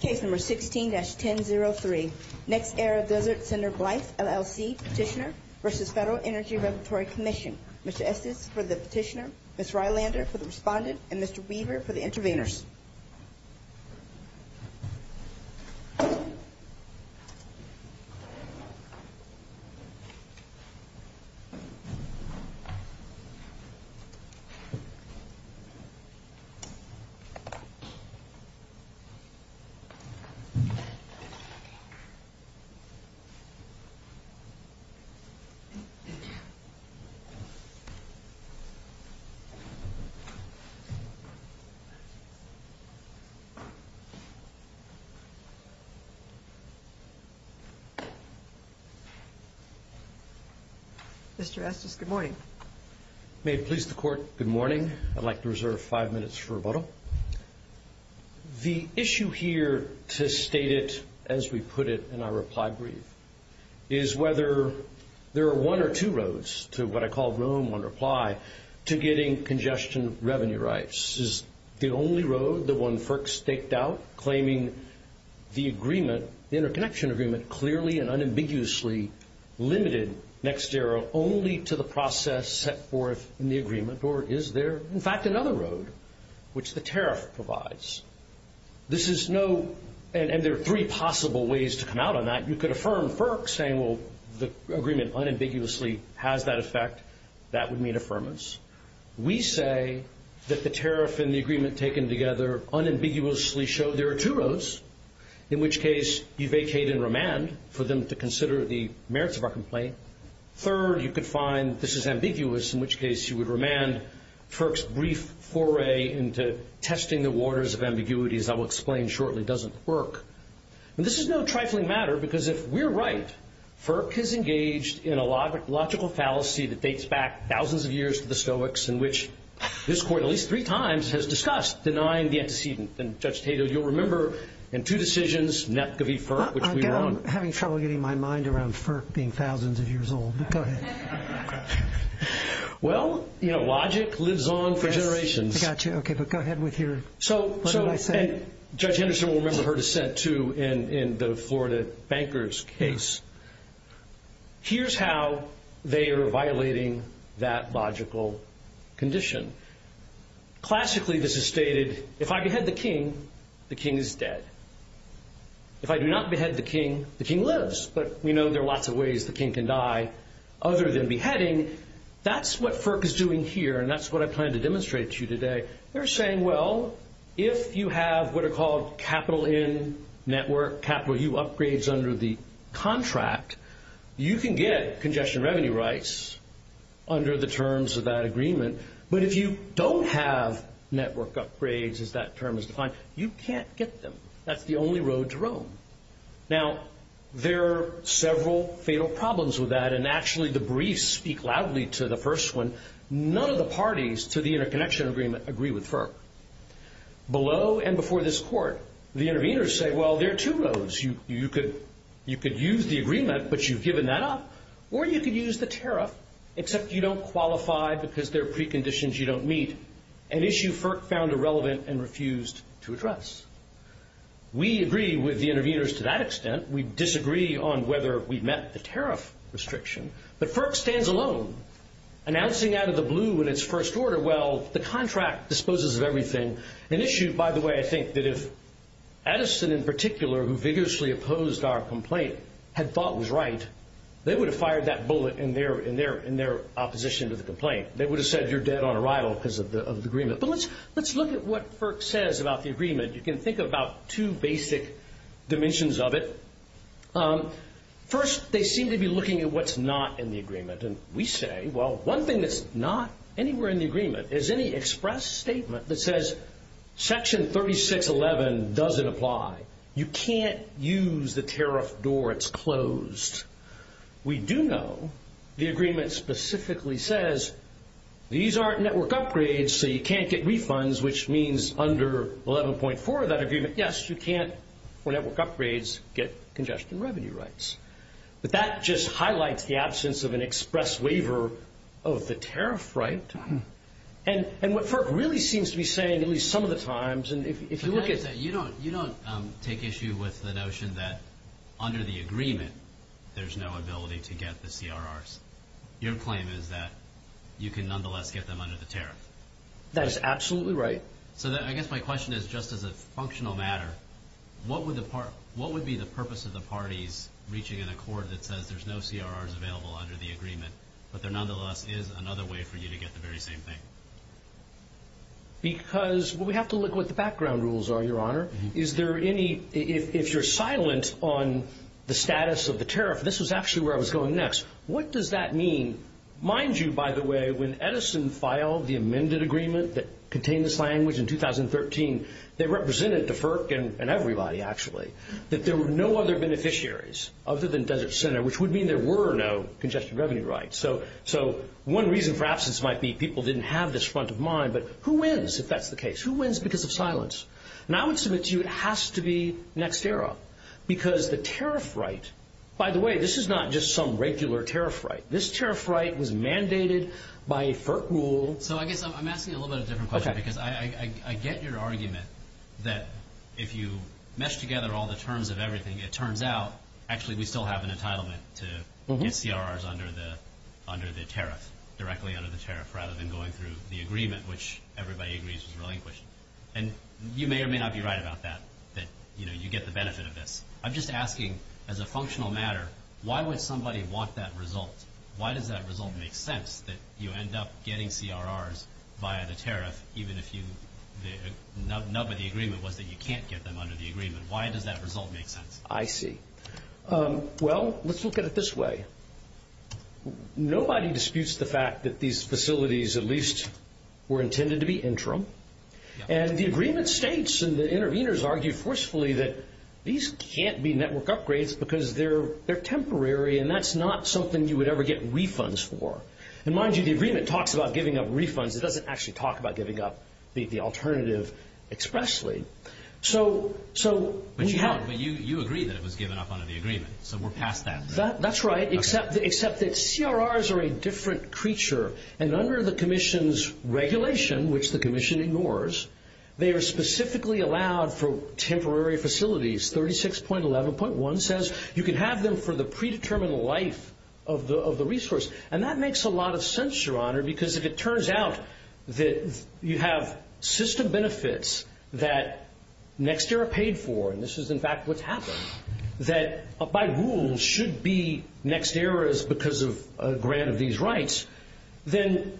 Case number 16-1003. NextEra Desert Center Blythe LLC petitioner versus Federal Energy Regulatory Commission. Mr. Estes for the petitioner, Ms. Rylander for the respondent, and Mr. Weaver for the intervenors. Mr. Estes, good morning. May it please the Court, good morning. I'd like to reserve five minutes for rebuttal. The issue here, to state it as we put it in our reply brief, is whether there are one or two roads to what I call Rome on reply to getting congestion revenue rights. Is the only road, the one FERC staked out, claiming the agreement, the interconnection agreement, clearly and unambiguously limited NextEra only to the process set forth in the agreement? Or is there, in fact, another road, which the tariff provides? This is no, and there are three possible ways to come out on that. You could affirm FERC saying, well, the agreement unambiguously has that effect. That would mean affirmance. We say that the tariff and the agreement taken together unambiguously show there are two roads, in which case you vacate and remand for them to consider the is ambiguous, in which case you would remand FERC's brief foray into testing the waters of ambiguity, as I will explain shortly, doesn't work. And this is no trifling matter, because if we're right, FERC has engaged in a logical fallacy that dates back thousands of years to the Stoics, in which this Court at least three times has discussed denying the antecedent. And, Judge Tato, you'll remember in two decisions, NETCV FERC, which we were on. I'm having trouble getting my mind around FERC being thousands of years old. Go ahead. Well, you know, logic lives on for generations. Yes, I got you. Okay, but go ahead with your... So, Judge Henderson will remember her dissent, too, in the Florida bankers case. Here's how they are violating that logical condition. Classically, this is stated, if I behead the king, the king lives, but we know there are lots of ways the king can die other than beheading. That's what FERC is doing here, and that's what I plan to demonstrate to you today. They're saying, well, if you have what are called capital-in network, capital-U upgrades under the contract, you can get congestion revenue rights under the terms of that agreement. But if you don't have network upgrades, as that term is defined, you can't get them. That's the only road to Rome. Now, there are several fatal problems with that, and actually the briefs speak loudly to the first one. None of the parties to the interconnection agreement agree with FERC. Below and before this court, the interveners say, well, there are two roads. You could use the agreement, but you've given that up, or you could use the tariff, except you don't qualify because there are preconditions you don't meet. An We agree with the interveners to that extent. We disagree on whether we've met the tariff restriction, but FERC stands alone, announcing out of the blue in its first order, well, the contract disposes of everything. An issue, by the way, I think, that if Edison in particular, who vigorously opposed our complaint, had thought was right, they would have fired that bullet in their opposition to the complaint. They would have said, you're dead on arrival because of the agreement. But let's look at what FERC says about the agreement. You can think of about two basic dimensions of it. First, they seem to be looking at what's not in the agreement, and we say, well, one thing that's not anywhere in the agreement is any express statement that says Section 3611 doesn't apply. You can't use the tariff door. It's closed. We do know the agreement specifically says, these aren't network upgrades, so you can't, yes, you can't, for network upgrades, get congestion revenue rights. But that just highlights the absence of an express waiver of the tariff right. And what FERC really seems to be saying, at least some of the times, and if you look at... You don't take issue with the notion that under the agreement, there's no ability to get the CRRs. Your claim is that you can nonetheless get them under the tariff. That is absolutely right. So I guess my question is, just as a functional matter, what would be the purpose of the parties reaching an accord that says there's no CRRs available under the agreement, but there nonetheless is another way for you to get the very same thing? Because we have to look at what the background rules are, Your Honor. If you're silent on the status of the tariff, this was actually where I was going next. What does that mean? Mind you, by the way, when Edison filed the amended agreement that contained this language in 2013, they represented the FERC and everybody, actually. That there were no other beneficiaries other than Desert Center, which would mean there were no congestion revenue rights. So one reason for absence might be people didn't have this front of mind, but who wins if that's the case? Who wins because of silence? And I would submit to you it has to be NextEra, because the tariff right... By the way, this is not just some regular tariff right. This tariff right was mandated by a FERC rule. So I guess I'm asking a little bit of a different question, because I get your argument that if you mesh together all the terms of everything, it turns out, actually, we still have an entitlement to get CRRs under the tariff, directly under the tariff, rather than going through the agreement, which everybody agrees was relinquished. And you may or may not be right about that, you know, you get the benefit of this. I'm just asking, as a functional matter, why would somebody want that result? Why does that result make sense that you end up getting CRRs via the tariff, even if the nub of the agreement was that you can't get them under the agreement? Why does that result make sense? I see. Well, let's look at it this way. Nobody disputes the fact that these facilities at the federal level are not in the interim. And the agreement states, and the interveners argue forcefully, that these can't be network upgrades because they're temporary, and that's not something you would ever get refunds for. And mind you, the agreement talks about giving up refunds. It doesn't actually talk about giving up the alternative expressly. But you agree that it was given up under the agreement, so we're past that. That's right, except that CRRs are a different creature. And under the Commission's regulation, which the Commission ignores, they are specifically allowed for temporary facilities. 36.11.1 says you can have them for the predetermined life of the resource. And that makes a lot of sense, Your Honor, because if it turns out that you have system benefits that next era paid for, and this is in fact what's happened, that by rule should be next eras because of the grant of these rights, then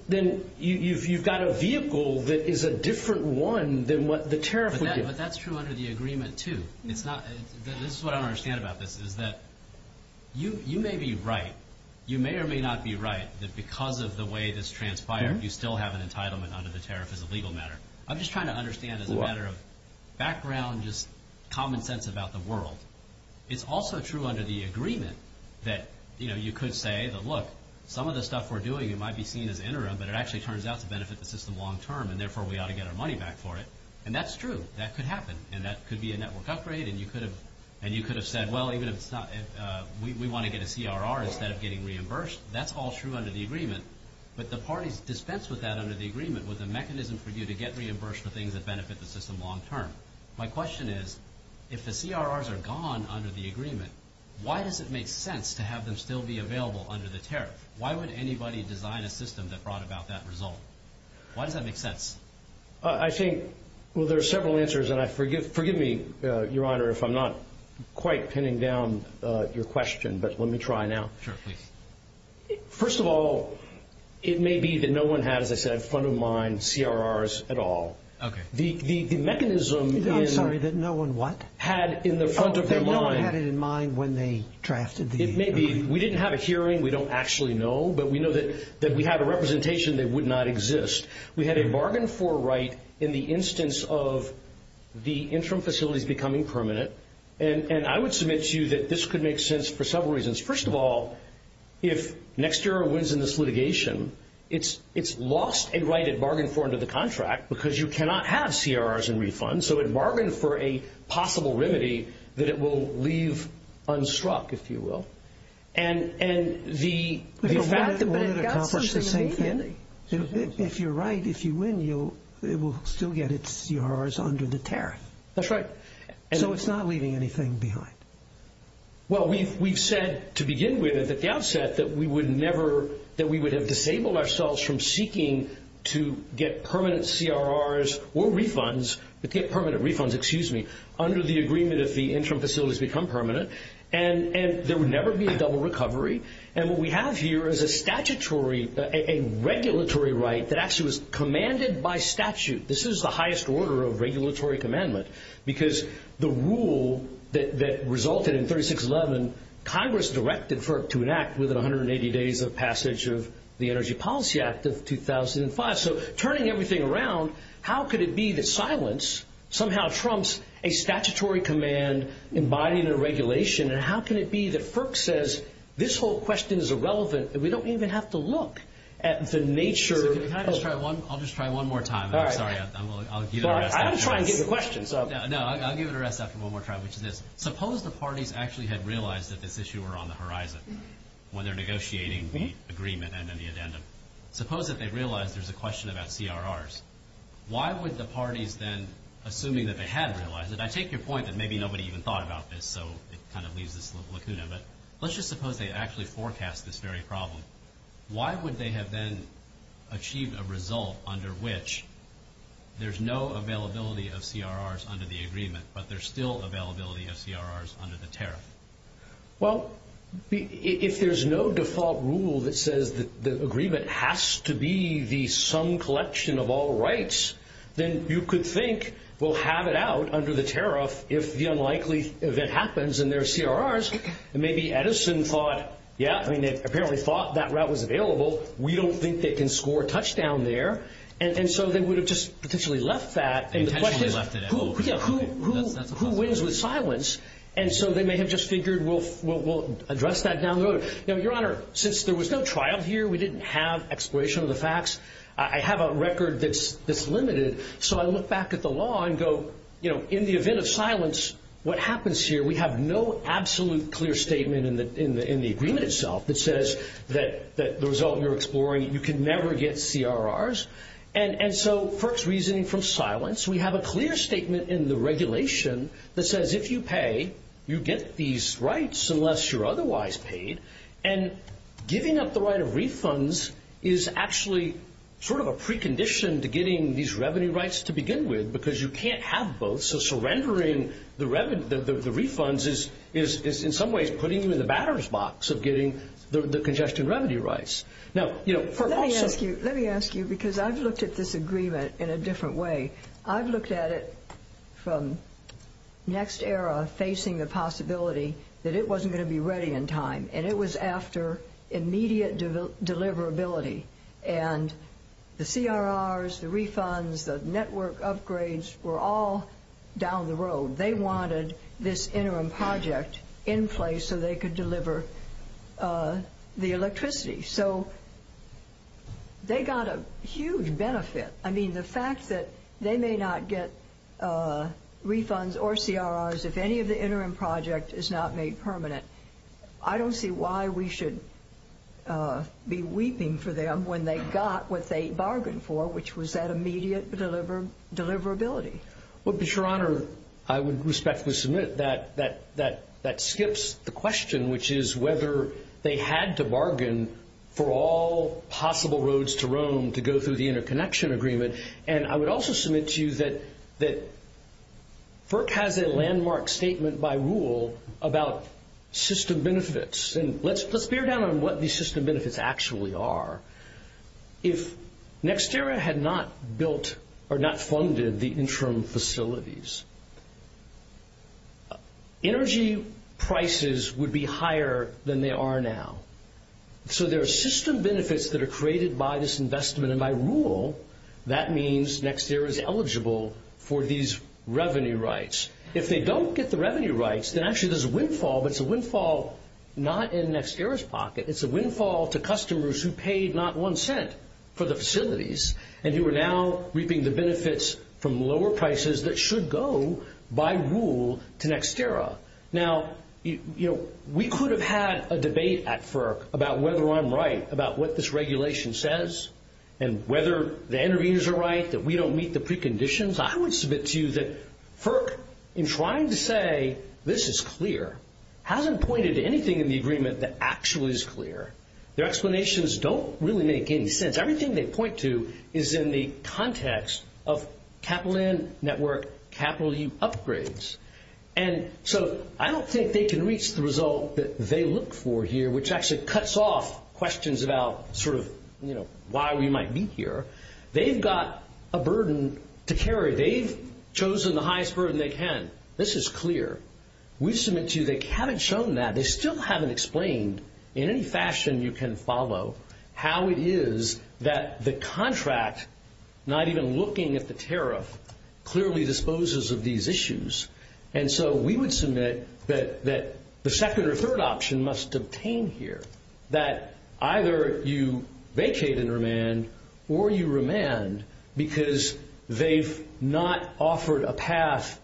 you've got a vehicle that is a different one than what the tariff would give. But that's true under the agreement, too. This is what I don't understand about this, is that you may be right. You may or may not be right that because of the way this transpired, you still have an entitlement under the tariff as a legal matter. I'm just trying to understand as a matter of background, just common sense about the world. It's also true under the agreement that you could say that, look, some of the stuff we're doing, it might be seen as interim, but it actually turns out to benefit the system long-term, and therefore we ought to get our money back for it. And that's true. That could happen. And that could be a network upgrade. And you could have said, well, we want to get a CRR instead of getting reimbursed. That's all true under the agreement. But the parties dispense with that under the agreement with a mechanism for you to get reimbursed for things that benefit the system long-term. My question is, if the CRRs are gone under the agreement, why does it make sense to have them still be available under the tariff? Why would anybody design a system that brought about that result? Why does that make sense? I think, well, there are several answers. And forgive me, Your Honor, if I'm not quite pinning down your question, but let me try now. Sure, please. First of all, it may be that no one had, as I said, front-of-mind CRRs at all. Okay. The mechanism... I'm sorry, that no one what? Had in the front of their mind... Oh, that no one had it in mind when they drafted the agreement. It may be. We didn't have a hearing. We don't actually know. But we know that we had a representation that would not exist. We had a bargain for right in the instance of the interim facilities becoming permanent. And I would submit to you that this could make sense for several reasons. First of all, if NextEra wins in this litigation, it's lost a right it bargained for under the contract because you cannot have CRRs in refund. So it bargained for a possible remedy that it will leave unstruck, if you will. And the fact that we would accomplish the same thing... But it got something immediately. If you're right, if you win, it will still get its CRRs under the tariff. That's right. So it's not leaving anything behind. Well, we've said to begin with, at the outset, that we would have disabled ourselves from seeking to get permanent CRRs or refunds, get permanent refunds, excuse me, under the agreement if the interim facilities become permanent. And there would never be a double recovery. And what we have here is a statutory, a regulatory right that actually was commanded by statute. This is the highest order of regulatory commandment. Because the rule that resulted in 3611, Congress directed FERC to enact within 180 days of passage of the Energy Policy Act of 2005. So turning everything around, how could it be that silence somehow trumps a statutory command embodying the regulation? And how can it be that FERC says, this whole question is irrelevant and we don't even have to look at the nature of... I'll just try one more time. Sorry, I'll give it a rest after one more try, which is this. Suppose the parties actually had realized that this issue were on the horizon when they're negotiating the agreement and then the addendum. Suppose that they realized there's a question about CRRs. Why would the parties then, assuming that they had realized it, I take your point that maybe nobody even thought about this, so it kind of leaves this little lacuna, but let's just suppose they actually forecast this very problem. Why would they have then achieved a result under which there's no availability of CRRs under the agreement, but there's still availability of CRRs under the tariff? Well, if there's no default rule that says that the agreement has to be the sum collection of all rights, then you could think we'll have it out under the tariff if the unlikely event happens and there are CRRs. And maybe Edison thought, yeah, I mean they apparently thought that route was available. We don't think they can score a touchdown there. And so they would have just potentially left that and the question is who wins with silence? And so they may have just figured we'll address that down the road. Now, Your Honor, since there was no trial here, we didn't have exploration of the facts. I have a record that's limited, so I look back at the law and go, in the event of silence, what happens here? We have no evidence that the result you're exploring, you can never get CRRs. And so first reasoning from silence, we have a clear statement in the regulation that says if you pay, you get these rights unless you're otherwise paid. And giving up the right of refunds is actually sort of a precondition to getting these revenue rights to begin with because you can't have both. So surrendering the refunds is in some ways putting you in the batter's box of getting the congestion revenue rights. Now, you know, let me ask you because I've looked at this agreement in a different way. I've looked at it from next era facing the possibility that it wasn't going to be ready in time and it was after immediate deliverability. And the CRRs, the refunds, the network upgrades were all down the road. They wanted this interim project in place so they could deliver the electricity. So they got a huge benefit. I mean, the fact that they may not get refunds or CRRs if any of the interim project is not made permanent, I don't see why we should be weeping for them when they got what they bargained for, which was that immediate deliverability. Well, Your Honor, I would respectfully submit that skips the question, which is whether they had to bargain for all possible roads to roam to go through the interconnection agreement. And I would also submit to you that FERC has a landmark statement by rule about system benefits. And let's bear down on what the system benefits actually are. If NextEra had not built or not funded the interim facilities, energy prices would be higher than they are now. So there are system benefits that are created by this investment. And by rule, that means NextEra is eligible for these revenue rights. If they don't get the revenue rights, then actually there's a windfall, but it's a windfall not in NextEra's interest to pay not one cent for the facilities. And you are now reaping the benefits from lower prices that should go by rule to NextEra. Now, we could have had a debate at FERC about whether I'm right about what this regulation says and whether the interviews are right, that we don't meet the preconditions. I would submit to you that FERC, in trying to say this is clear, hasn't pointed to anything in the agreement that actually is clear. Their explanations don't really make any sense. Everything they point to is in the context of Capital In, Network, Capital U upgrades. And so I don't think they can reach the result that they look for here, which actually cuts off questions about sort of why we might be here. They've got a burden to carry. They've chosen the highest burden they can. This is clear. We submit to you they haven't shown that. They still haven't explained in any fashion you can follow how it is that the contract, not even looking at the tariff, clearly disposes of these issues. And so we would submit that the second or third option must obtain here, that either you vacate and remand or you remand because they've not offered a path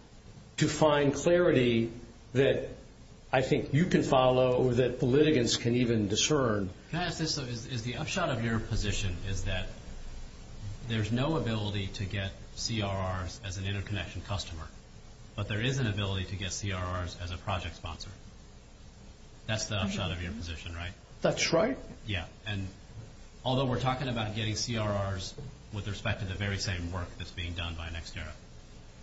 to find clarity that I think you can follow or that politicians can even discern. Can I ask this though? Is the upshot of your position is that there's no ability to get CRRs as an interconnection customer, but there is an ability to get CRRs as a project sponsor? That's the upshot of your position, right? That's right. Yeah. And although we're talking about getting CRRs with respect to the very same work that's being done by NextEra,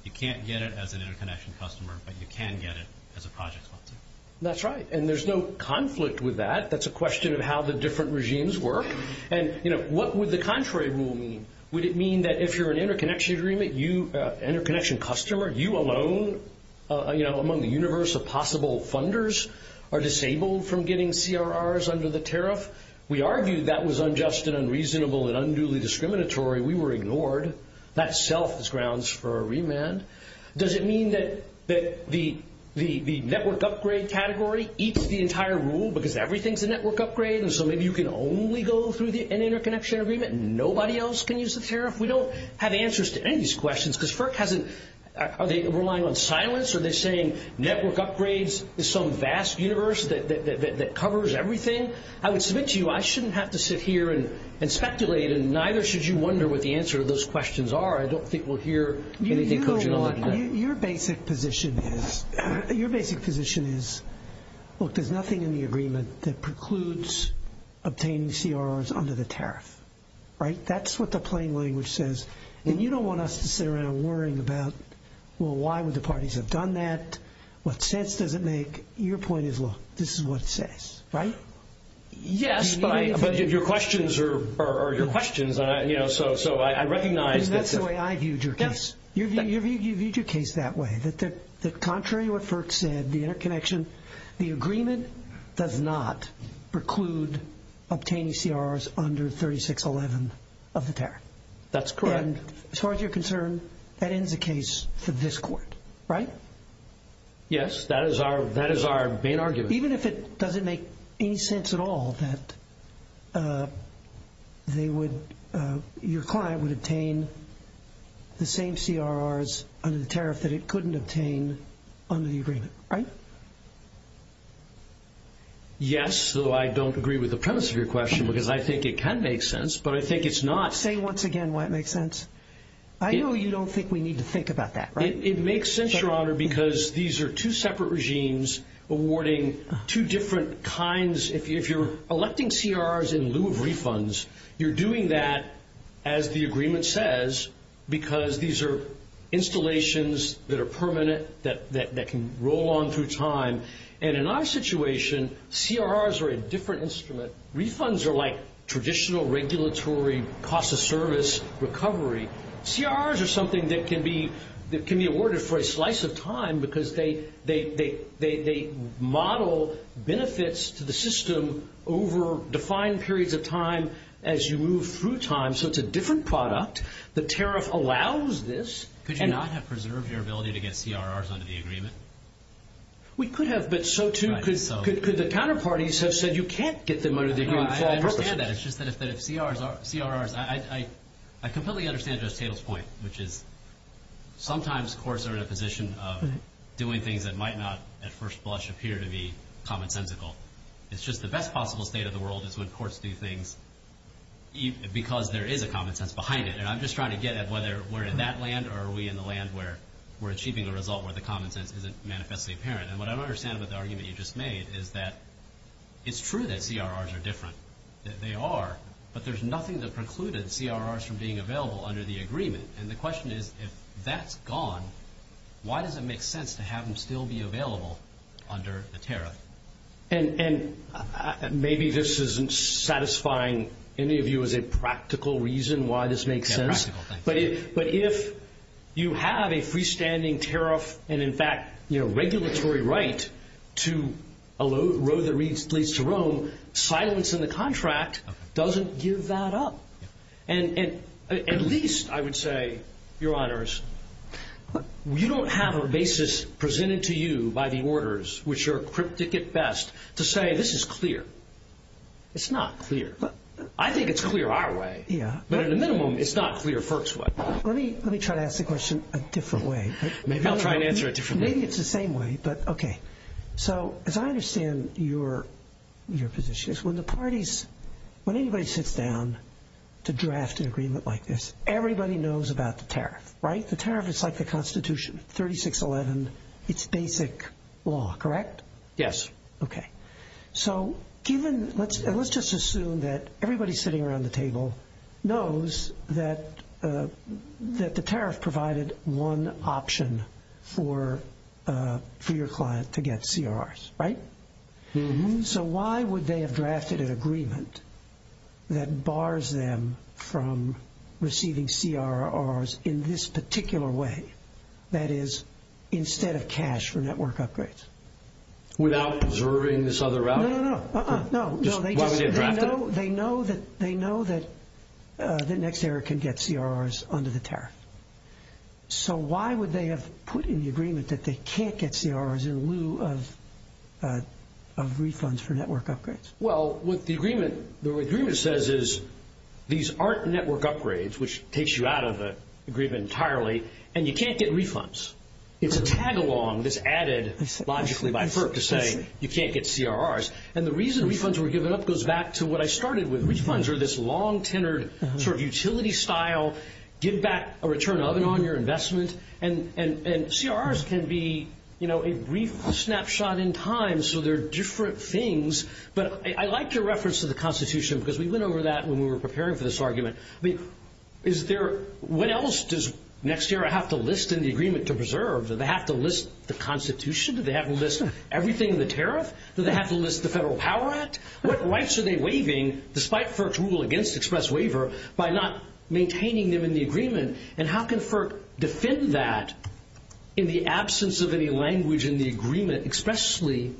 you can't get it as an interconnection customer, but you can get it as a project sponsor. That's right. And there's no conflict with that. That's a question of how the different regimes work. And what would the contrary rule mean? Would it mean that if you're an interconnection agreement, you, interconnection customer, you alone among the universe of possible funders are disabled from getting CRRs under the tariff? We argued that was unjust and unreasonable and unduly discriminatory. We were ignored. That self is grounds for category eats the entire rule because everything's a network upgrade. And so maybe you can only go through the interconnection agreement. Nobody else can use the tariff. We don't have answers to any of these questions because FERC hasn't, are they relying on silence? Are they saying network upgrades is some vast universe that covers everything? I would submit to you, I shouldn't have to sit here and speculate. And neither should you wonder what the answer to those questions are. I don't think we'll hear anything. Your basic position is, look, there's nothing in the agreement that precludes obtaining CRRs under the tariff, right? That's what the plain language says. And you don't want us to sit around worrying about, well, why would the parties have done that? What sense does it make? Your point is, look, this is what it says, right? Yes, but your questions are your questions. So I recognize that's the way I viewed your case. You viewed your case that way, that contrary to what FERC said, the interconnection, the agreement does not preclude obtaining CRRs under 3611 of the tariff. That's correct. And as far as you're concerned, that ends the case for this court, right? Yes, that is our main argument. Even if it doesn't make any sense at all that your client would obtain the same CRRs under the tariff that it couldn't obtain under the agreement, right? Yes, though I don't agree with the premise of your question, because I think it can make sense, but I think it's not. Say once again why it makes sense. I know you don't think we need to think about that, right? It makes sense, Your Honor, because these are two separate regimes awarding two different kinds. If you're electing CRRs in lieu of refunds, you're doing that, as the agreement says, because these are installations that are permanent, that can roll on through time. And in our situation, CRRs are a different instrument. Refunds are like traditional regulatory cost of service recovery. CRRs are something that can be awarded for a slice of time, because they model benefits to the system over defined periods of time as you move through time. So it's a different product. The tariff allows this. Could you not have preserved your ability to get CRRs under the agreement? We could have, but so too could the counterparties have said, you can't get them under the agreement for all purposes. I understand that. It's just that if CRRs... I completely understand Judge Tatel's point, which is sometimes courts are in a position of doing things that might not at first blush appear to be commonsensical. It's just the best possible state of the world is when courts do things because there is a common sense behind it. And I'm just trying to get at whether we're in that land or are we in the land where we're achieving a result where the common sense isn't manifestly apparent. And what I don't understand about the argument you there's nothing that precluded CRRs from being available under the agreement. And the question is, if that's gone, why does it make sense to have them still be available under the tariff? And maybe this isn't satisfying any of you as a practical reason why this makes sense. But if you have a freestanding tariff and in fact regulatory right to a road that leads to Rome, silence in the contract doesn't give that up. And at least, I would say, Your Honors, you don't have a basis presented to you by the orders, which are cryptic at best, to say this is clear. It's not clear. I think it's clear our way. But at a minimum, it's not clear FERC's way. Let me try to ask the question a different way. Maybe it's the same way, but okay. So as I understand your position is when the parties, when anybody sits down to draft an agreement like this, everybody knows about the tariff, right? The tariff is like the Constitution, 3611, it's basic law, correct? Yes. Okay. So given, let's just assume that everybody sitting around the table knows that the tariff provided one option for your client to get CRRs, right? So why would they have drafted an agreement that bars them from receiving CRRs in this particular way, that is, instead of cash for network upgrades? Without observing this other route? No, no, no, no, no. They know that the next era can get CRRs under the tariff. So why would they have put in the agreement that they can't get CRRs in lieu of refunds for network upgrades? Well, what the agreement says is these aren't network upgrades, which takes you out of the agreement entirely, and you can't get refunds. It's a tag along that's added logically by FERC to say you can't get CRRs. And the reason refunds were given up goes back to what I started with. Refunds are this long-tenured sort of utility style, give back a return of and on your investment. And CRRs can be, you know, a brief snapshot in time, so they're different things. But I like your reference to the Constitution because we went over that when we were preparing for this argument. I mean, what else does next era have to list in the agreement to preserve? Do they have to list the Constitution? Do they have to list everything in the tariff? Do they have to list the Federal Power Act? What rights are they waiving, despite FERC's rule against express waiver, by not maintaining them in the agreement? And how can FERC defend that in the absence of any language in the agreement expressly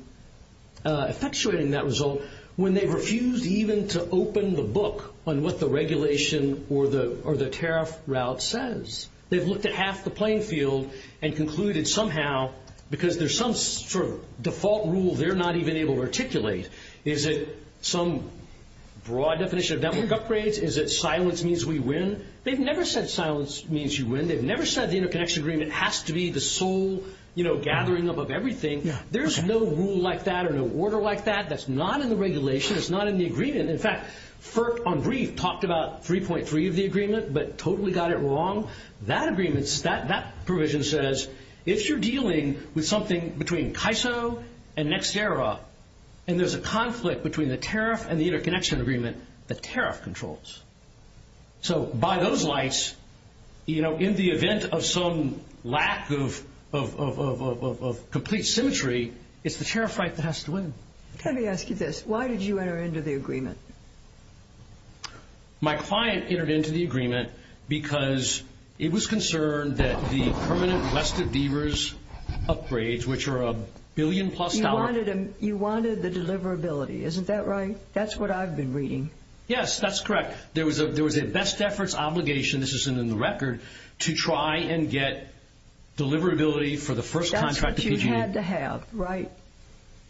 effectuating that result when they refused even to open the book on what the regulation or the tariff route says? They've looked at half the playing field and concluded somehow because there's some sort of default rule they're not even able to articulate. Is it some broad definition of network upgrades? Is it silence means we win? They've never said silence means you win. They've never said the interconnection agreement has to be the sole, you know, gathering up of everything. There's no rule like that or no order like that. That's not in the regulation. It's not in the agreement. In fact, FERC, on brief, talked about 3.3 of the agreement but totally got it wrong. That agreement, that provision says if you're dealing with something between CAISO and next era and there's a conflict between the tariff and the interconnection agreement, the tariff controls. So by those lights, you know, in the event of some lack of complete symmetry, it's the tariff right that has to win. Let me ask you this. Why did you enter into the agreement? My client entered into the agreement because it was concerned that the permanent West of Deaver's upgrades, which are a billion plus dollars. You wanted the deliverability. Isn't that right? That's what I've been reading. Yes, that's correct. There was a best efforts obligation, this isn't in the record, to try and get deliverability for the first contract. That's what you had to have, right?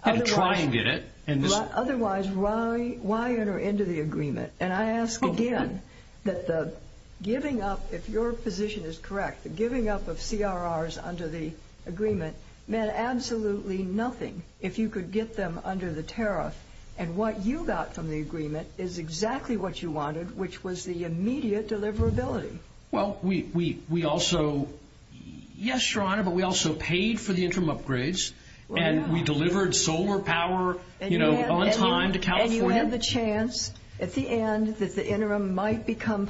And try and get it. Otherwise, why enter into the agreement? And I ask again that the giving up, if your position is correct, the giving up of CRRs under the agreement meant absolutely nothing if you could get them under the tariff. And what you got from the agreement is exactly what you wanted, which was the immediate deliverability. Well, we also, yes, Your Honor, but we also paid for the interim upgrades and we delivered solar power, you know, on time to California. And you had the chance at the end that the interim might become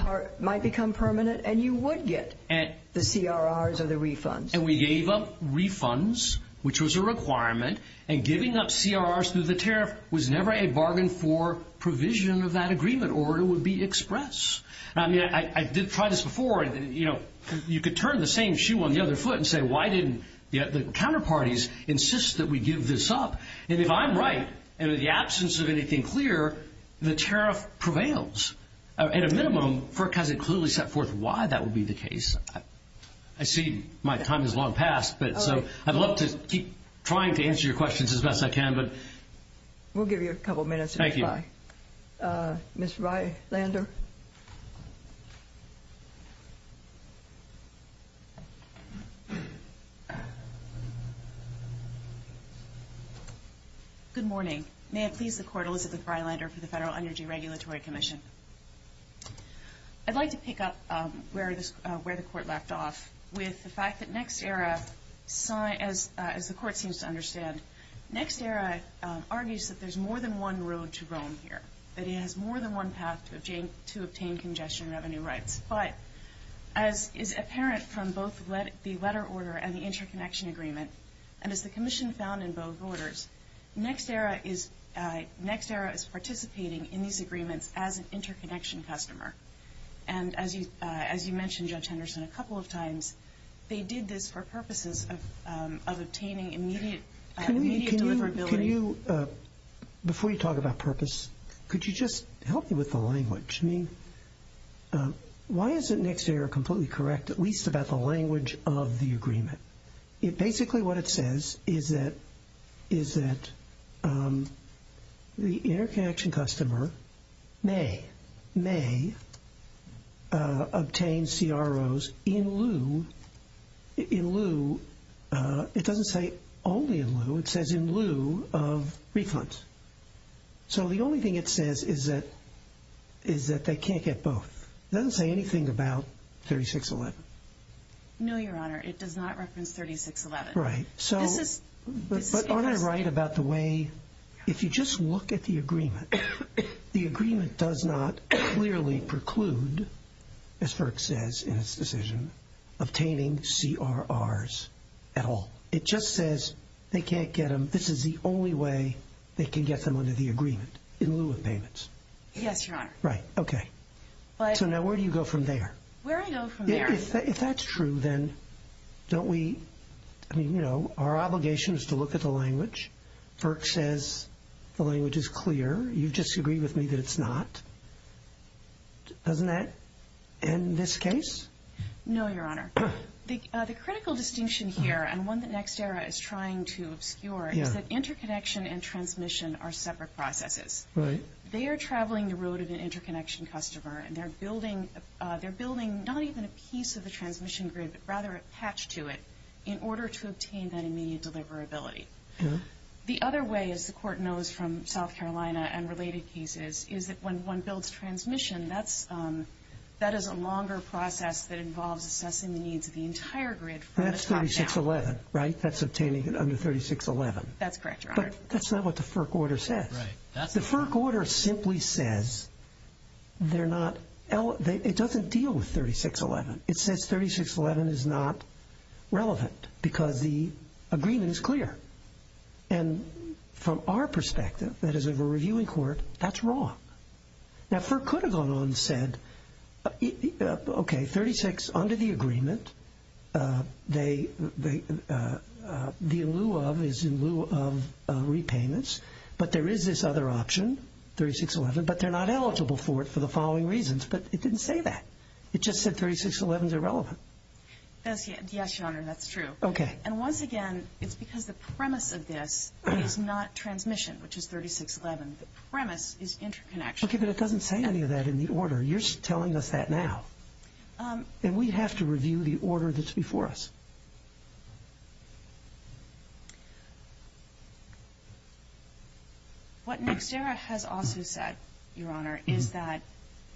permanent and you would get the CRRs or the refunds. And we gave up refunds, which was a requirement, and giving up CRRs through the tariff was never a bargain for provision of that agreement or it would be express. I mean, I did try this before. You know, you could turn the same shoe on the other foot and say, why didn't the counterparties insist that we give this up? And if I'm right, and in the absence of anything clear, the tariff prevails, at a minimum, because it clearly set forth why that would be the case. I see my time has long passed, but so I'd love to keep trying to answer your questions as best I can, but... We'll give you a couple of minutes, if you'd like. Okay. Ms. Reilander? Good morning. May it please the Court, Elizabeth Reilander for the Federal Energy Regulatory Commission. I'd like to pick up where the Court left off with the fact that NextEra, as the Court seems to understand, NextEra argues that there's more than one road to roam here, that it has more than one path to obtain congestion revenue rights. But as is apparent from both the letter order and the interconnection agreement, and as the Commission found in both orders, NextEra is participating in these agreements as an interconnection customer. And as you mentioned, Judge Henderson, a couple of times, they did this for purposes of obtaining immediate deliverability... Can you, before you talk about purpose, could you just help me with the language? I mean, why isn't NextEra completely correct, at least about the language of the agreement? Basically what it says is that the interconnection customer may obtain CROs in lieu, it doesn't say only in lieu, it says in lieu of refunds. So the only thing it says is that they can't get both. It doesn't say anything about 3611. No, Your Honor, it does not reference 3611. Right. But aren't I right about the way, if you just look at the agreement, the agreement does not clearly preclude, as FERC says in its decision, obtaining CRRs at all. It just says they can't get them, this is the only way they can get them under the agreement, in lieu of payments. Yes, Your Honor. Right, okay. So now where do you go from there? Where do I go from there? If that's true, then don't we, I mean, you know, our obligation is to look at the language. FERC says the language is clear, you disagree with me that it's not. Doesn't that end this case? No, Your Honor. The critical distinction here, and one that NextEra is trying to obscure, is that interconnection and transmission are separate processes. Right. They are traveling the road of an interconnection customer, and they're building, they're building not even a piece of the transmission grid, but rather a patch to it, in order to obtain that immediate deliverability. Yeah. The other way, as the Court knows from South Carolina and related cases, is that when one builds transmission, that's, that is a longer process that involves assessing the needs of the entire grid from the top down. That's 3611, right? That's obtaining it under 3611. That's correct, Your Honor. But that's not what the FERC order says. Right. The FERC order simply says they're not, it doesn't deal with 3611. It says 3611 is not relevant, because the agreement is clear. And from our perspective, that is of a reviewing court, that's wrong. Now FERC could have gone on and said, okay, 36 under the agreement, they, they, the lieu of is in lieu of repayments, but there is this other option, 3611, but they're not eligible for it for the following reasons. But it didn't say that. It just said 3611 is irrelevant. Yes, Your Honor, that's true. Okay. And once again, it's because the premise of this is not transmission, which is 3611. The premise is interconnection. Okay, but it doesn't say any of that in the order. You're telling us that now. And we have to review the order that's before us. What NextEra has also said, Your Honor, is that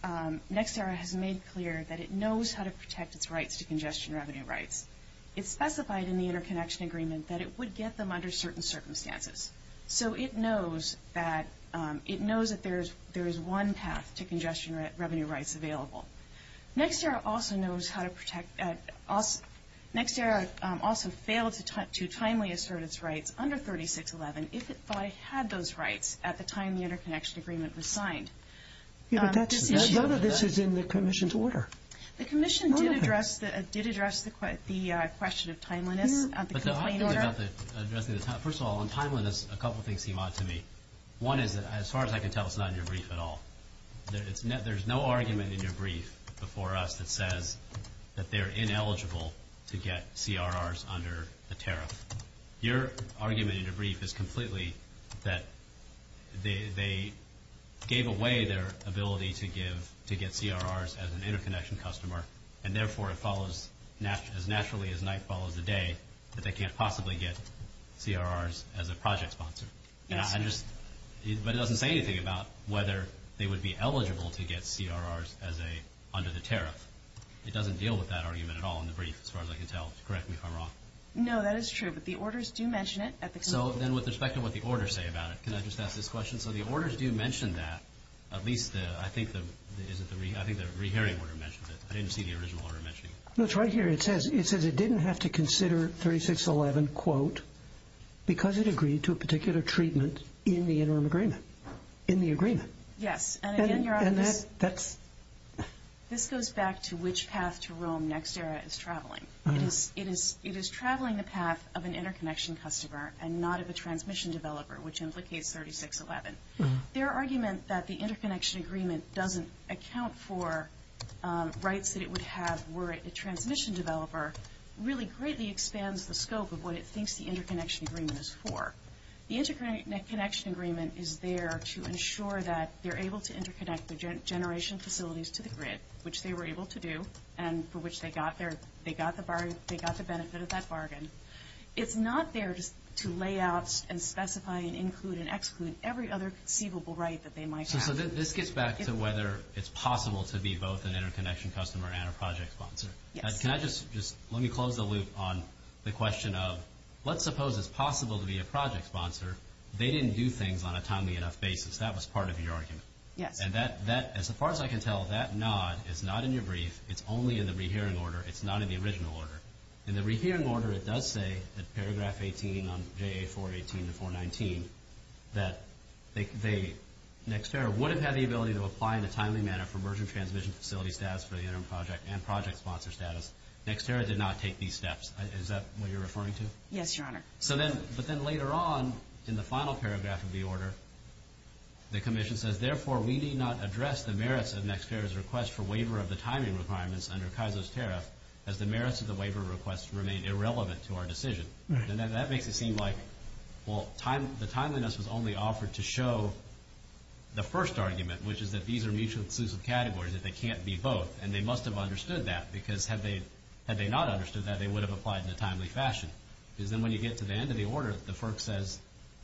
NextEra has made clear that it knows how to protect its rights to congestion revenue rights. It specified in the interconnection agreement that it would get them under certain circumstances. So it knows that, it knows that there is, there is one path to congestion revenue rights available. NextEra also knows how to protect, NextEra also failed to timely assert its rights under 3611 if it thought it had those rights at the time the interconnection agreement was signed. Yeah, but that's, none of this is in the commission's order. The commission did address, did address the question of timeliness at the complaint order. But the other thing about the, addressing the, first of all, on timeliness, a couple of times I can tell it's not in your brief at all. There's no argument in your brief before us that says that they're ineligible to get CRRs under the tariff. Your argument in your brief is completely that they gave away their ability to give, to get CRRs as an interconnection customer, and therefore it follows as naturally as night follows the day that they can't possibly get CRRs as a project sponsor. Yes. And I just, but it doesn't say anything about whether they would be eligible to get CRRs as a, under the tariff. It doesn't deal with that argument at all in the brief, as far as I can tell. Correct me if I'm wrong. No, that is true, but the orders do mention it at the complaint. So then with respect to what the orders say about it, can I just ask this question? So the orders do mention that, at least the, I think the, is it the, I think the rehearing order mentions it. I didn't see the original order mentioning it. No, it's right here. It says, it says it didn't have to consider 3611, quote, because it agreed to a particular treatment in the interim agreement, in the agreement. Yes, and again, Your Honor, this goes back to which path to Rome next era is traveling. It is traveling the path of an interconnection customer and not of a transmission developer, which implicates 3611. Their argument that the interconnection agreement doesn't account for rights that it would have were it a transmission developer really greatly expands the scope of what it thinks the interconnection agreement is for. The interconnection agreement is there to ensure that they're able to interconnect the generation facilities to the grid, which they were able to do, and for which they got their, they got the bargain, they got the benefit of that bargain. It's not there just to lay out and specify and include and exclude every other conceivable right that they might have. So this gets back to whether it's possible to be both an interconnection customer and a project sponsor. Yes. Can I just, just let me close the loop on the question of, let's suppose it's possible to be a project sponsor. They didn't do things on a timely enough basis. That was part of your argument. Yes. And that, that, as far as I can tell, that nod is not in your brief. It's only in the rehearing order. It's not in the original order. In the rehearing order, it does say that paragraph 18 on JA 418 to 419 that they next era would have had the ability to apply in a timely manner for merger transmission facility status for the interim project and project sponsor status. Next era did not take these steps. Is that what you're referring to? Yes, Your Honor. So then, but then later on in the final paragraph of the order, the commission says, therefore, we need not address the merits of next era's request for waiver of the timing requirements under Kaiser's tariff as the merits of the waiver request remain irrelevant to our decision. Right. And that, that makes it seem like, well, time, the timeliness was only offered to show the first argument, which is that these are mutually exclusive categories, that they can't be both. And they must have understood that because had they, had they not understood that, they would have applied in a timely fashion. Because then when you get to the end of the order, the FERC says,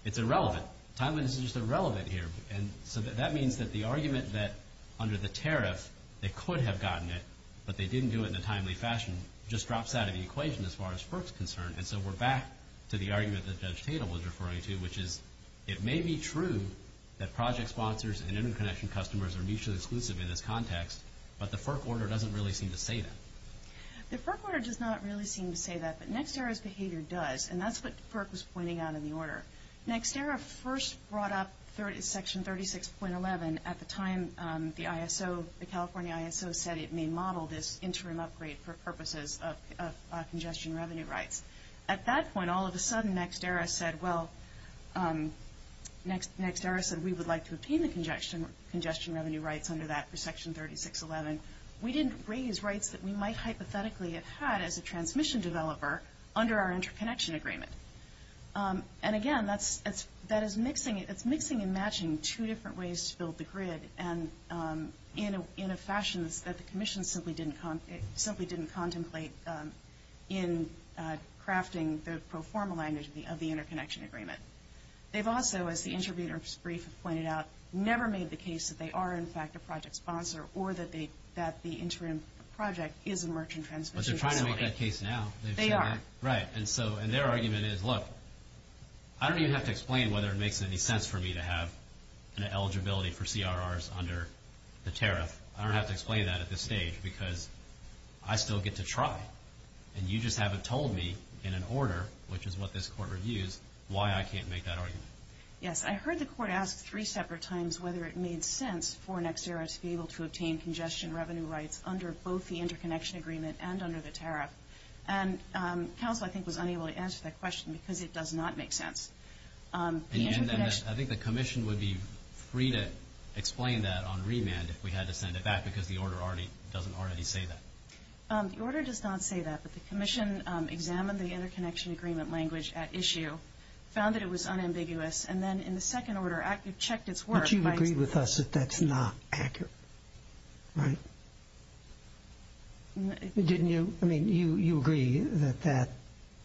it's irrelevant. Timeliness is just irrelevant here. And so that means that the argument that under the tariff, they could have gotten it, but they didn't do it in a timely fashion, just drops out of the equation as far as FERC's concerned. And so we're back to the argument that Judge Tatum was referring to, which is, it may be true that project sponsors and interconnection customers are mutually exclusive in this context, but the FERC order doesn't really seem to say that. The FERC order does not really seem to say that, but NextEra's behavior does. And that's what FERC was pointing out in the order. NextEra first brought up Section 36.11 at the time the ISO, the California ISO said it may model this interim upgrade for purposes of congestion revenue rights. At that point, all of a sudden, NextEra said, well, NextEra said, we would like to obtain the congestion revenue rights under that for Section 36.11. We didn't raise rights that we might hypothetically have had as a transmission developer under our interconnection agreement. And again, that is mixing and matching two different ways to build the grid, and in a fashion that the Commission simply didn't contemplate in crafting the pro forma language of the interconnection agreement. They've also, as the interviewer's brief pointed out, never made the case that they are, in fact, a project sponsor or that the interim project is a merchant transmission facility. But they're trying to make that case now. They are. Right. And so, and their argument is, look, I don't even have to explain whether it makes any sense for me to have an eligibility for CRRs under the tariff. I don't have to explain that at this stage because I still get to try. And you just haven't told me in an order, which is what this Court reviews, why I can't make that argument. Yes. I heard the Court ask three separate times whether it made sense for NextEra to be able to obtain congestion revenue rights under both the interconnection agreement and under the tariff. And counsel, I think, was unable to answer that question because it does not make sense. And I think the Commission would be free to explain that on remand if we had to send it back because the order doesn't already say that. The order does not say that. But the Commission examined the interconnection agreement language at issue, found that it was unambiguous. And then in the second order, it checked its work. But you agree with us that that's not accurate, right? Didn't you? I mean, you agree that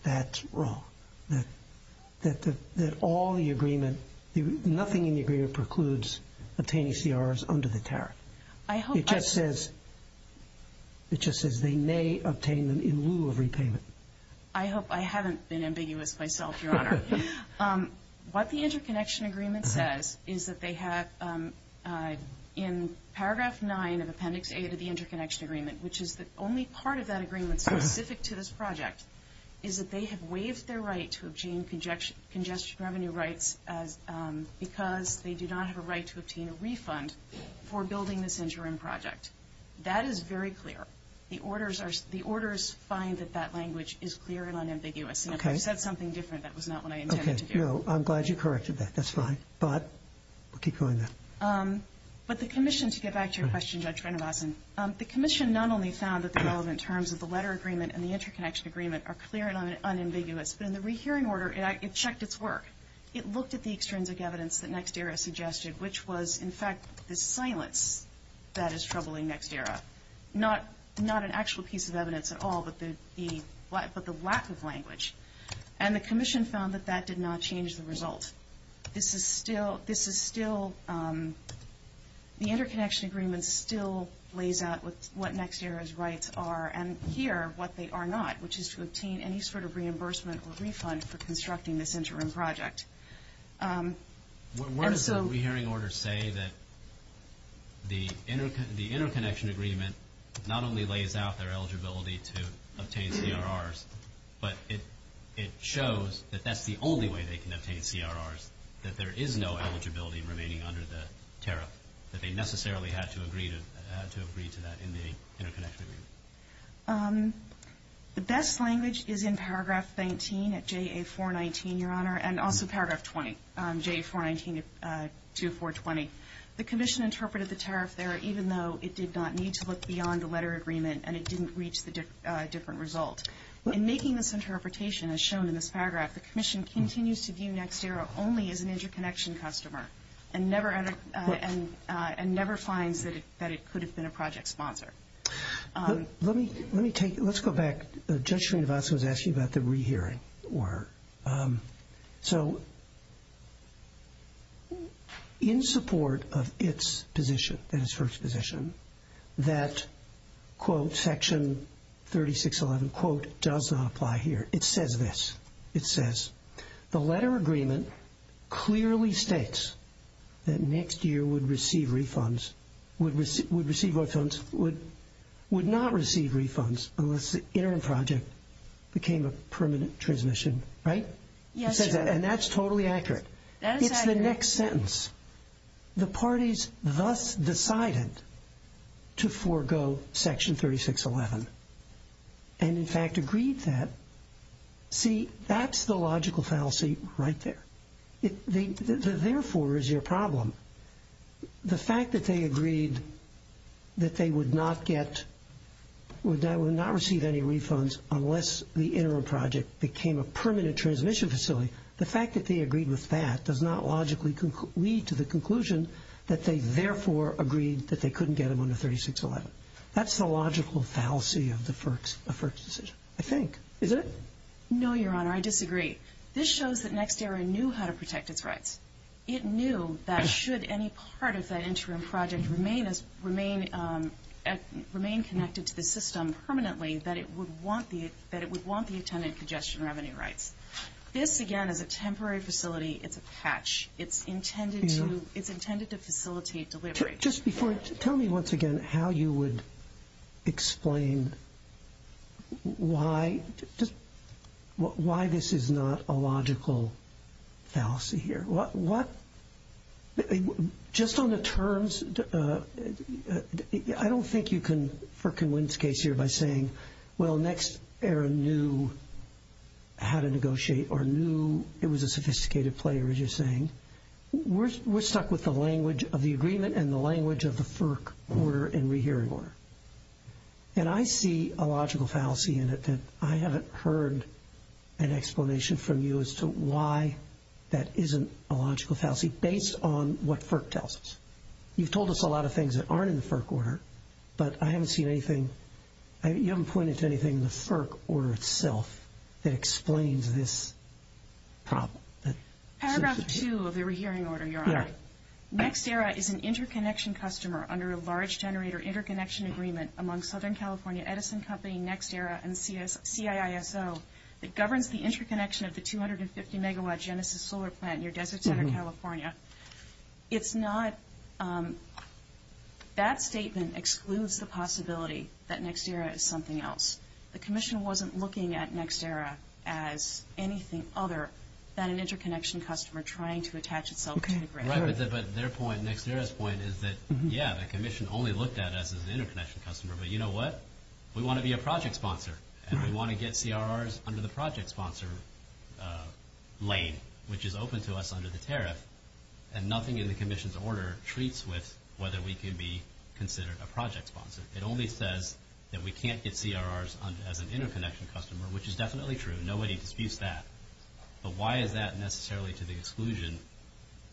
that's wrong, that all the agreement, nothing in the agreement precludes obtaining CRRs under the tariff. It just says they may obtain them in lieu of repayment. I hope I haven't been ambiguous myself, Your Honor. What the interconnection agreement says is that they have, in paragraph 9 of Appendix A to the interconnection agreement, which is the only part of that agreement specific to this project, is that they have waived their right to obtain congestion revenue rights because they do not have a right to obtain a refund for building this interim project. That is very clear. The orders find that that language is clear and unambiguous. Okay. And if I said something different, that was not what I intended to do. Okay. No, I'm glad you corrected that. That's fine. But we'll keep going there. But the Commission, to get back to your question, Judge Renovason, the Commission not only found that the relevant terms of the letter agreement and the interconnection agreement are clear and unambiguous, but in the rehearing order, it checked its work. It looked at the extrinsic evidence that NextEra suggested, which was, in fact, the silence that is troubling NextEra. Not an actual piece of evidence at all, but the lack of language. And the Commission found that that did not change the result. This is still, the interconnection agreement still lays out what NextEra's rights are, and here, what they are not, which is to obtain any sort of reimbursement or refund for constructing this interim project. Where does the rehearing order say that the interconnection agreement not only lays out their eligibility to obtain CRRs, but it shows that that's the only way they can obtain CRRs, that there is no eligibility remaining under the tariff, that they necessarily had to agree to that in the interconnection agreement? The best language is in paragraph 19 at JA419, Your Honor, and also paragraph 20, JA419-420. The Commission interpreted the tariff there even though it did not need to look beyond the letter agreement and it didn't reach the different result. In making this interpretation, as shown in this paragraph, the Commission continues to view NextEra only as an interconnection customer and never finds that it could have been a project sponsor. Let me take, let's go back. Judge Srinivasan was asking about the rehearing order. So, in support of its position, its first position, that, quote, section 3611, quote, does not apply here. It says this. It says, the letter agreement clearly states that NextEra would receive refunds, would receive refunds, would not receive refunds unless the interim project became a permanent transmission, right? Yes, Your Honor. And that's totally accurate. That is accurate. It's the next sentence. The parties thus decided to forego section 3611 and, in fact, agreed to that. See, that's the logical fallacy right there. The therefore is your problem. The fact that they agreed that they would not get, would not receive any refunds unless the interim project became a permanent transmission facility, the fact that they agreed with that does not logically lead to the conclusion that they therefore agreed that they couldn't get them under 3611. That's the logical fallacy of the first decision, I think. Isn't it? No, Your Honor. I disagree. This shows that NextEra knew how to protect its rights. It knew that should any part of that interim project remain connected to the system permanently, that it would want the attendant congestion revenue rights. This, again, is a temporary facility. It's a patch. It's intended to facilitate delivery. Terry, just before, tell me once again how you would explain why this is not a logical fallacy here. Just on the terms, I don't think you can for convince case here by saying, well, NextEra knew how to negotiate or knew it was a sophisticated player, as you're saying. We're stuck with the language of the agreement and the language of the FERC order and rehearing order. And I see a logical fallacy in it that I haven't heard an explanation from you as to why that isn't a logical fallacy based on what FERC tells us. You've told us a lot of things that aren't in the FERC order, but I haven't seen anything. You haven't pointed to anything in the FERC order itself that explains this problem. Paragraph two of the rehearing order, Your Honor. NextEra is an interconnection customer under a large generator interconnection agreement among Southern California Edison Company, NextEra, and CIISO that governs the interconnection of the 250-megawatt Genesis solar plant near Desert Center, California. That statement excludes the possibility that NextEra is something else. The commission wasn't looking at NextEra as anything other than an interconnection customer trying to attach itself to the generator. Right, but their point, NextEra's point, is that, yeah, the commission only looked at us as an interconnection customer, but you know what? We want to be a project sponsor, and we want to get CRRs under the project sponsor lane, which is open to us under the tariff, and nothing in the commission's order treats with whether we can be considered a project sponsor. It only says that we can't get CRRs as an interconnection customer, which is definitely true. Nobody disputes that. But why is that necessarily to the exclusion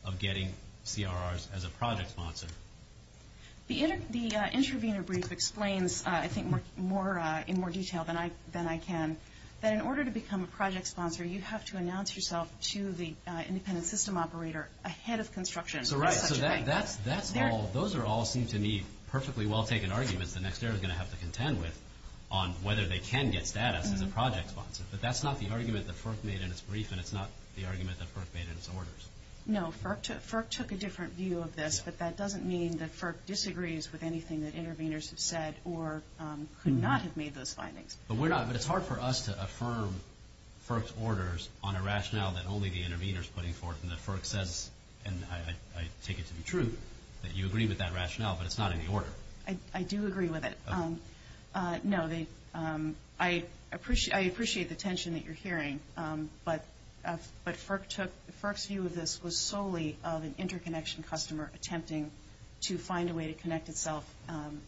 of getting CRRs as a project sponsor? The intervener brief explains, I think, in more detail than I can, that in order to become a project sponsor, you have to announce yourself to the independent system operator ahead of construction. Those all seem to me perfectly well-taken arguments that NextEra is going to have to contend with on whether they can get status as a project sponsor. But that's not the argument that FERC made in its brief, and it's not the argument that FERC made in its orders. No, FERC took a different view of this, but that doesn't mean that FERC disagrees with anything that interveners have said or could not have made those findings. But it's hard for us to affirm FERC's orders on a rationale that only the intervener is putting forth and that FERC says, and I take it to be true, that you agree with that rationale, but it's not in the order. I do agree with it. No, I appreciate the tension that you're hearing, but FERC's view of this was solely of an interconnection customer attempting to find a way to connect itself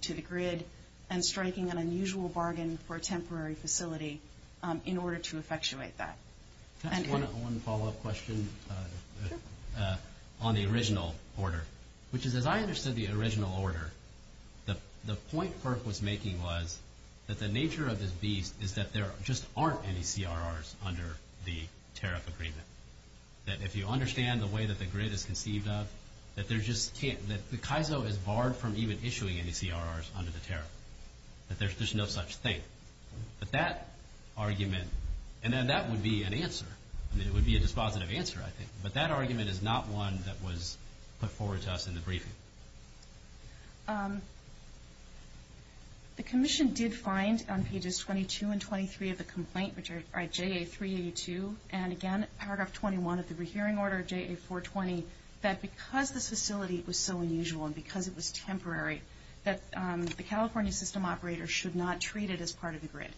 to the grid and striking an unusual bargain for a temporary facility in order to effectuate that. Can I ask one follow-up question on the original order? Which is, as I understood the original order, the point FERC was making was that the nature of this beast is that there just aren't any CRRs under the tariff agreement, that if you understand the way that the grid is conceived of, that the Kaizo is barred from even issuing any CRRs under the tariff, that there's just no such thing. But that argument, and then that would be an answer. I mean, it would be a dispositive answer, I think. But that argument is not one that was put forward to us in the briefing. The Commission did find on pages 22 and 23 of the complaint, which are JA-382, and again, paragraph 21 of the rehearing order, JA-420, that because this facility was so unusual and because it was temporary, that the California system operator should not treat it as part of the grid.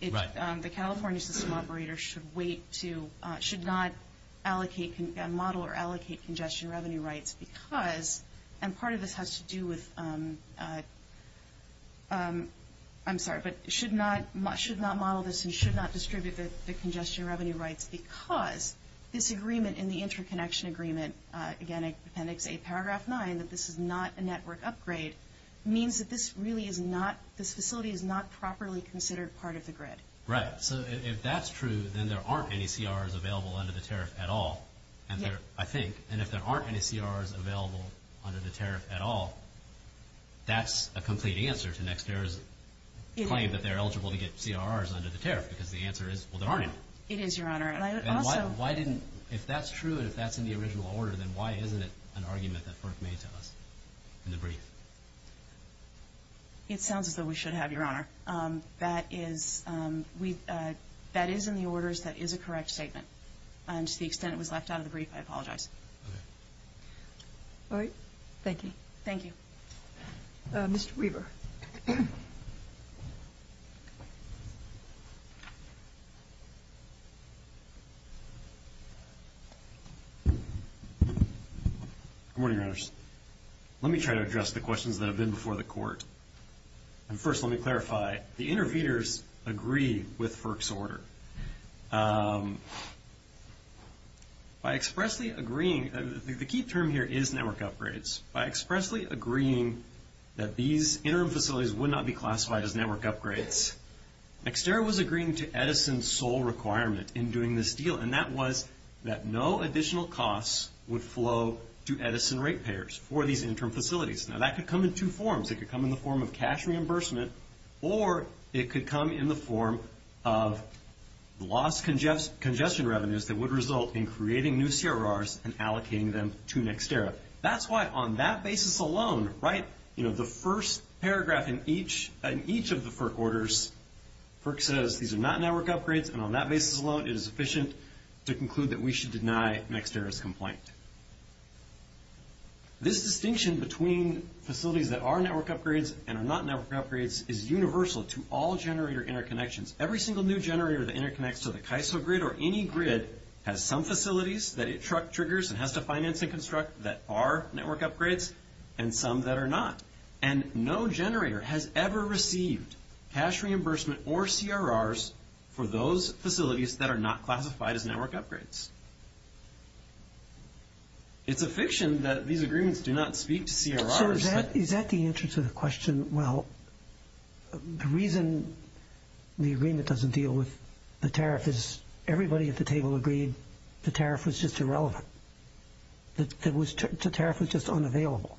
The California system operator should not allocate, model or allocate congestion revenue rights because, and part of this has to do with, I'm sorry, but should not model this and should not distribute the congestion revenue rights because this agreement in the interconnection agreement, again, Appendix A, Paragraph 9, that this is not a network upgrade, means that this facility is not properly considered part of the grid. Right. So if that's true, then there aren't any CRRs available under the tariff at all, I think. And if there aren't any CRRs available under the tariff at all, that's a complete answer to Nextair's claim that they're eligible to get CRRs under the tariff because the answer is, well, there aren't any. It is, Your Honor. If that's true and if that's in the original order, then why isn't it an argument that Burke made to us in the brief? It sounds as though we should have, Your Honor. That is in the orders. That is a correct statement. To the extent it was left out of the brief, I apologize. All right. Thank you. Thank you. Mr. Weaver. Good morning, Your Honors. Let me try to address the questions that have been before the Court. First, let me clarify. The interviewers agree with Burke's order. By expressly agreeing, the key term here is network upgrades. By expressly agreeing that these interim facilities would not be classified as network upgrades, Nextair was agreeing to Edison's sole requirement in doing this deal, and that was that no additional costs would flow to Edison rate payers for these interim facilities. Now, that could come in two forms. It could come in the form of cash reimbursement, or it could come in the form of lost congestion revenues that would result in creating new CRRs and allocating them to Nextair. That's why on that basis alone, right, you know, the first paragraph in each of the FERC orders, FERC says these are not network upgrades, and on that basis alone, it is sufficient to conclude that we should deny Nextair's complaint. This distinction between facilities that are network upgrades and are not network upgrades is universal to all generator interconnections. Every single new generator that interconnects to the KISO grid or any grid has some facilities that it triggers and has to finance and construct that are network upgrades and some that are not. And no generator has ever received cash reimbursement or CRRs for those facilities that are not classified as network upgrades. It's a fiction that these agreements do not speak to CRRs. So is that the answer to the question? Well, the reason the agreement doesn't deal with the tariff is everybody at the table agreed that the tariff was just irrelevant, that the tariff was just unavailable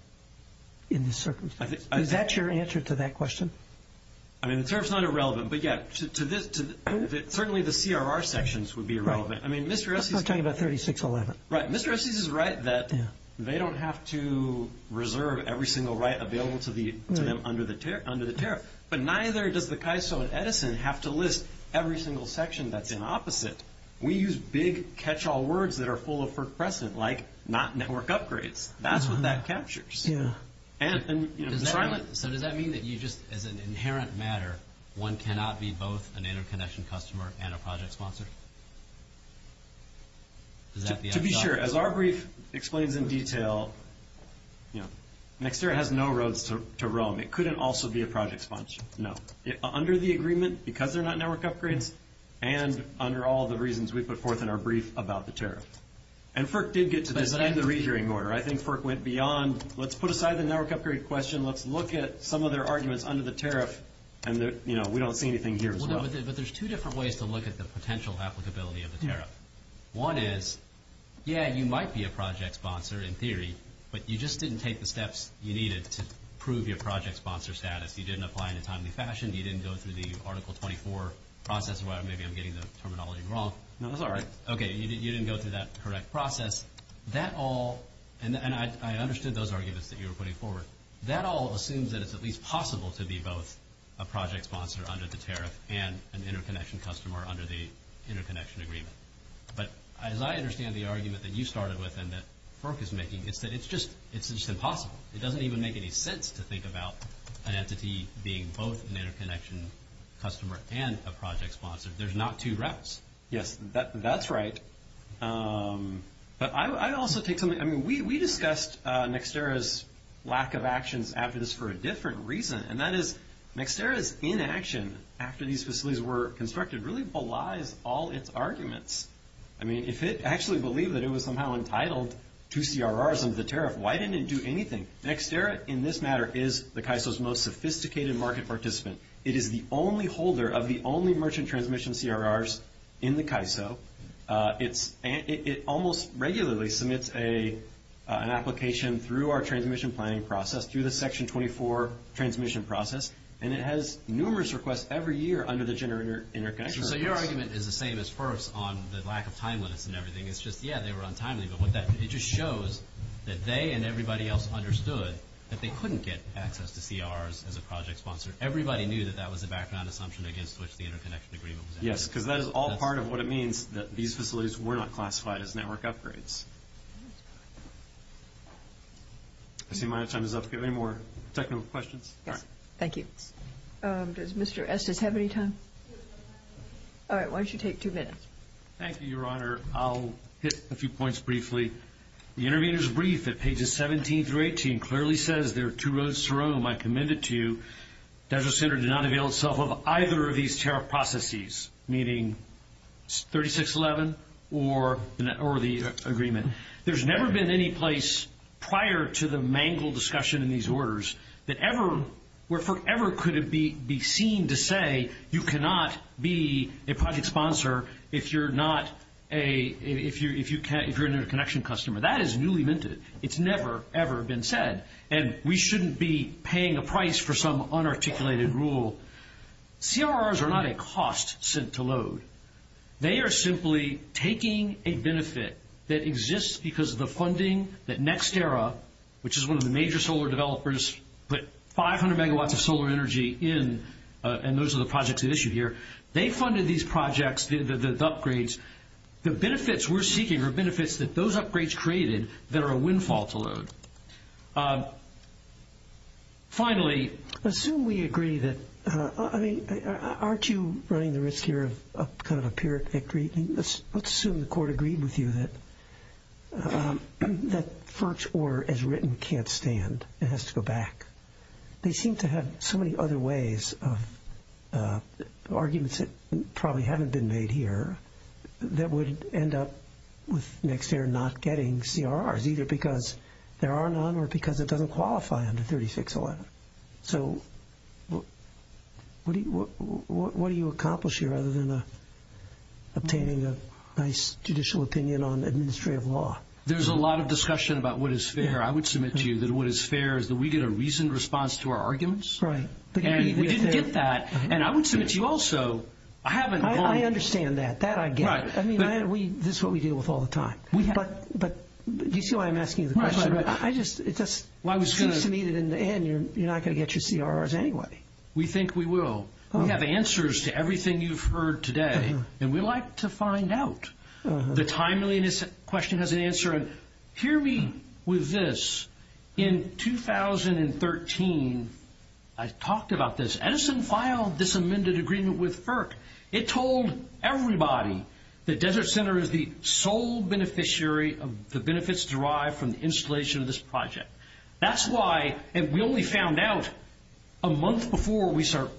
in this circumstance. Is that your answer to that question? I mean, the tariff's not irrelevant, but, yeah, certainly the CRR sections would be irrelevant. Right. I mean, Mr. Esses is right that they don't have to reserve every single right available to them under the tariff, but neither does the KISO at Edison have to list every single section that's in opposite. We use big catch-all words that are full of precedent, like not network upgrades. That's what that captures. So does that mean that you just, as an inherent matter, one cannot be both an interconnection customer and a project sponsor? To be sure, as our brief explains in detail, Nextera has no roads to roam. It couldn't also be a project sponsor, no. Under the agreement, because they're not network upgrades, and under all the reasons we put forth in our brief about the tariff. And FERC did get to this end of the re-hearing order. I think FERC went beyond, let's put aside the network upgrade question, let's look at some of their arguments under the tariff, and we don't see anything here as well. But there's two different ways to look at the potential applicability of the tariff. One is, yeah, you might be a project sponsor in theory, but you just didn't take the steps you needed to prove your project sponsor status. You didn't apply in a timely fashion. You didn't go through the Article 24 process. Maybe I'm getting the terminology wrong. No, that's all right. Okay, you didn't go through that correct process. That all, and I understood those arguments that you were putting forward. That all assumes that it's at least possible to be both a project sponsor under the tariff and an interconnection customer under the interconnection agreement. But as I understand the argument that you started with and that FERC is making, it's that it's just impossible. It doesn't even make any sense to think about an entity being both an interconnection customer and a project sponsor. There's not two routes. Yes, that's right. But I also think something, I mean, we discussed Nextera's lack of actions after this for a different reason, and that is Nextera's inaction after these facilities were constructed really belies all its arguments. I mean, if it actually believed that it was somehow entitled to CRRs under the tariff, why didn't it do anything? Nextera, in this matter, is the CAISO's most sophisticated market participant. It is the only holder of the only merchant transmission CRRs in the CAISO. It almost regularly submits an application through our transmission planning process, through the Section 24 transmission process, and it has numerous requests every year under the interconnection request. So your argument is the same as FERC's on the lack of timeliness and everything. It's just, yeah, they were untimely. But it just shows that they and everybody else understood that they couldn't get access to CRRs as a project sponsor. Everybody knew that that was a background assumption against which the interconnection agreement was enacted. Yes, because that is all part of what it means that these facilities were not classified as network upgrades. I see my time is up. Do you have any more technical questions? Yes. Thank you. Does Mr. Estes have any time? All right, why don't you take two minutes? Thank you, Your Honor. Your Honor, I'll hit a few points briefly. The intervener's brief at pages 17 through 18 clearly says there are two roads to Rome. I commend it to you. Desert Center did not avail itself of either of these tariff processes, meaning 3611 or the agreement. There's never been any place prior to the mangled discussion in these orders where forever could it be seen to say you cannot be a project sponsor if you're not a connection customer. That is newly minted. It's never, ever been said. And we shouldn't be paying a price for some unarticulated rule. CRRs are not a cost sent to load. They are simply taking a benefit that exists because of the funding that NextEra, which is one of the major solar developers, put 500 megawatts of solar energy in, and those are the projects at issue here. They funded these projects, the upgrades. The benefits we're seeking are benefits that those upgrades created that are a windfall to load. Finally, assume we agree that, I mean, aren't you running the risk here of kind of a pyrrhic victory? Let's assume the court agreed with you that FERC's order as written can't stand. It has to go back. They seem to have so many other ways of arguments that probably haven't been made here that would end up with NextEra not getting CRRs, either because there are none or because it doesn't qualify under 3611. So what do you accomplish here other than obtaining a nice judicial opinion on administrative law? There's a lot of discussion about what is fair. I would submit to you that what is fair is that we get a reasoned response to our arguments, and we didn't get that. And I would submit to you also I haven't— I understand that. That I get. I mean, this is what we deal with all the time. But do you see why I'm asking you the question? It just seems to me that in the end you're not going to get your CRRs anyway. We think we will. We have answers to everything you've heard today, and we like to find out. The timeliness question has an answer. And hear me with this. In 2013, I talked about this. Edison filed this amended agreement with FERC. It told everybody that Desert Center is the sole beneficiary of the benefits derived from the installation of this project. That's why—and we only found out a month before we started,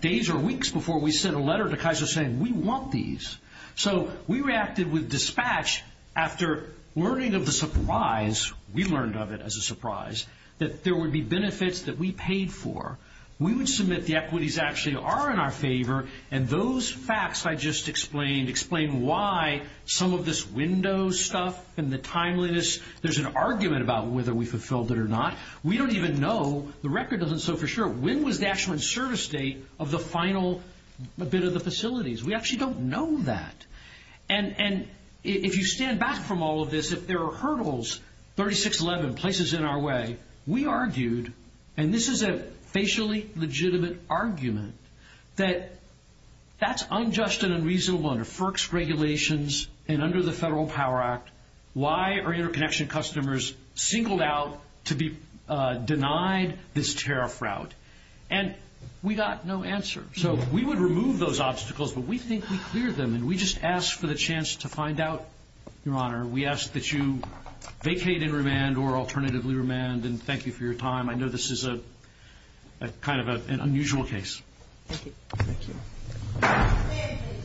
days or weeks before we sent a letter to Kaiser saying, We want these. So we reacted with dispatch after learning of the surprise— we learned of it as a surprise— that there would be benefits that we paid for. We would submit the equities actually are in our favor, and those facts I just explained explain why some of this window stuff and the timeliness, there's an argument about whether we fulfilled it or not. We don't even know. The record doesn't show for sure. When was the actual service date of the final bit of the facilities? We actually don't know that. And if you stand back from all of this, if there are hurdles, 3611, places in our way, we argued, and this is a facially legitimate argument, that that's unjust and unreasonable under FERC's regulations and under the Federal Power Act. Why are interconnection customers singled out to be denied this tariff route? And we got no answer. So we would remove those obstacles, but we think we cleared them, and we just ask for the chance to find out, Your Honor. We ask that you vacate and remand or alternatively remand, and thank you for your time. I know this is kind of an unusual case. Thank you.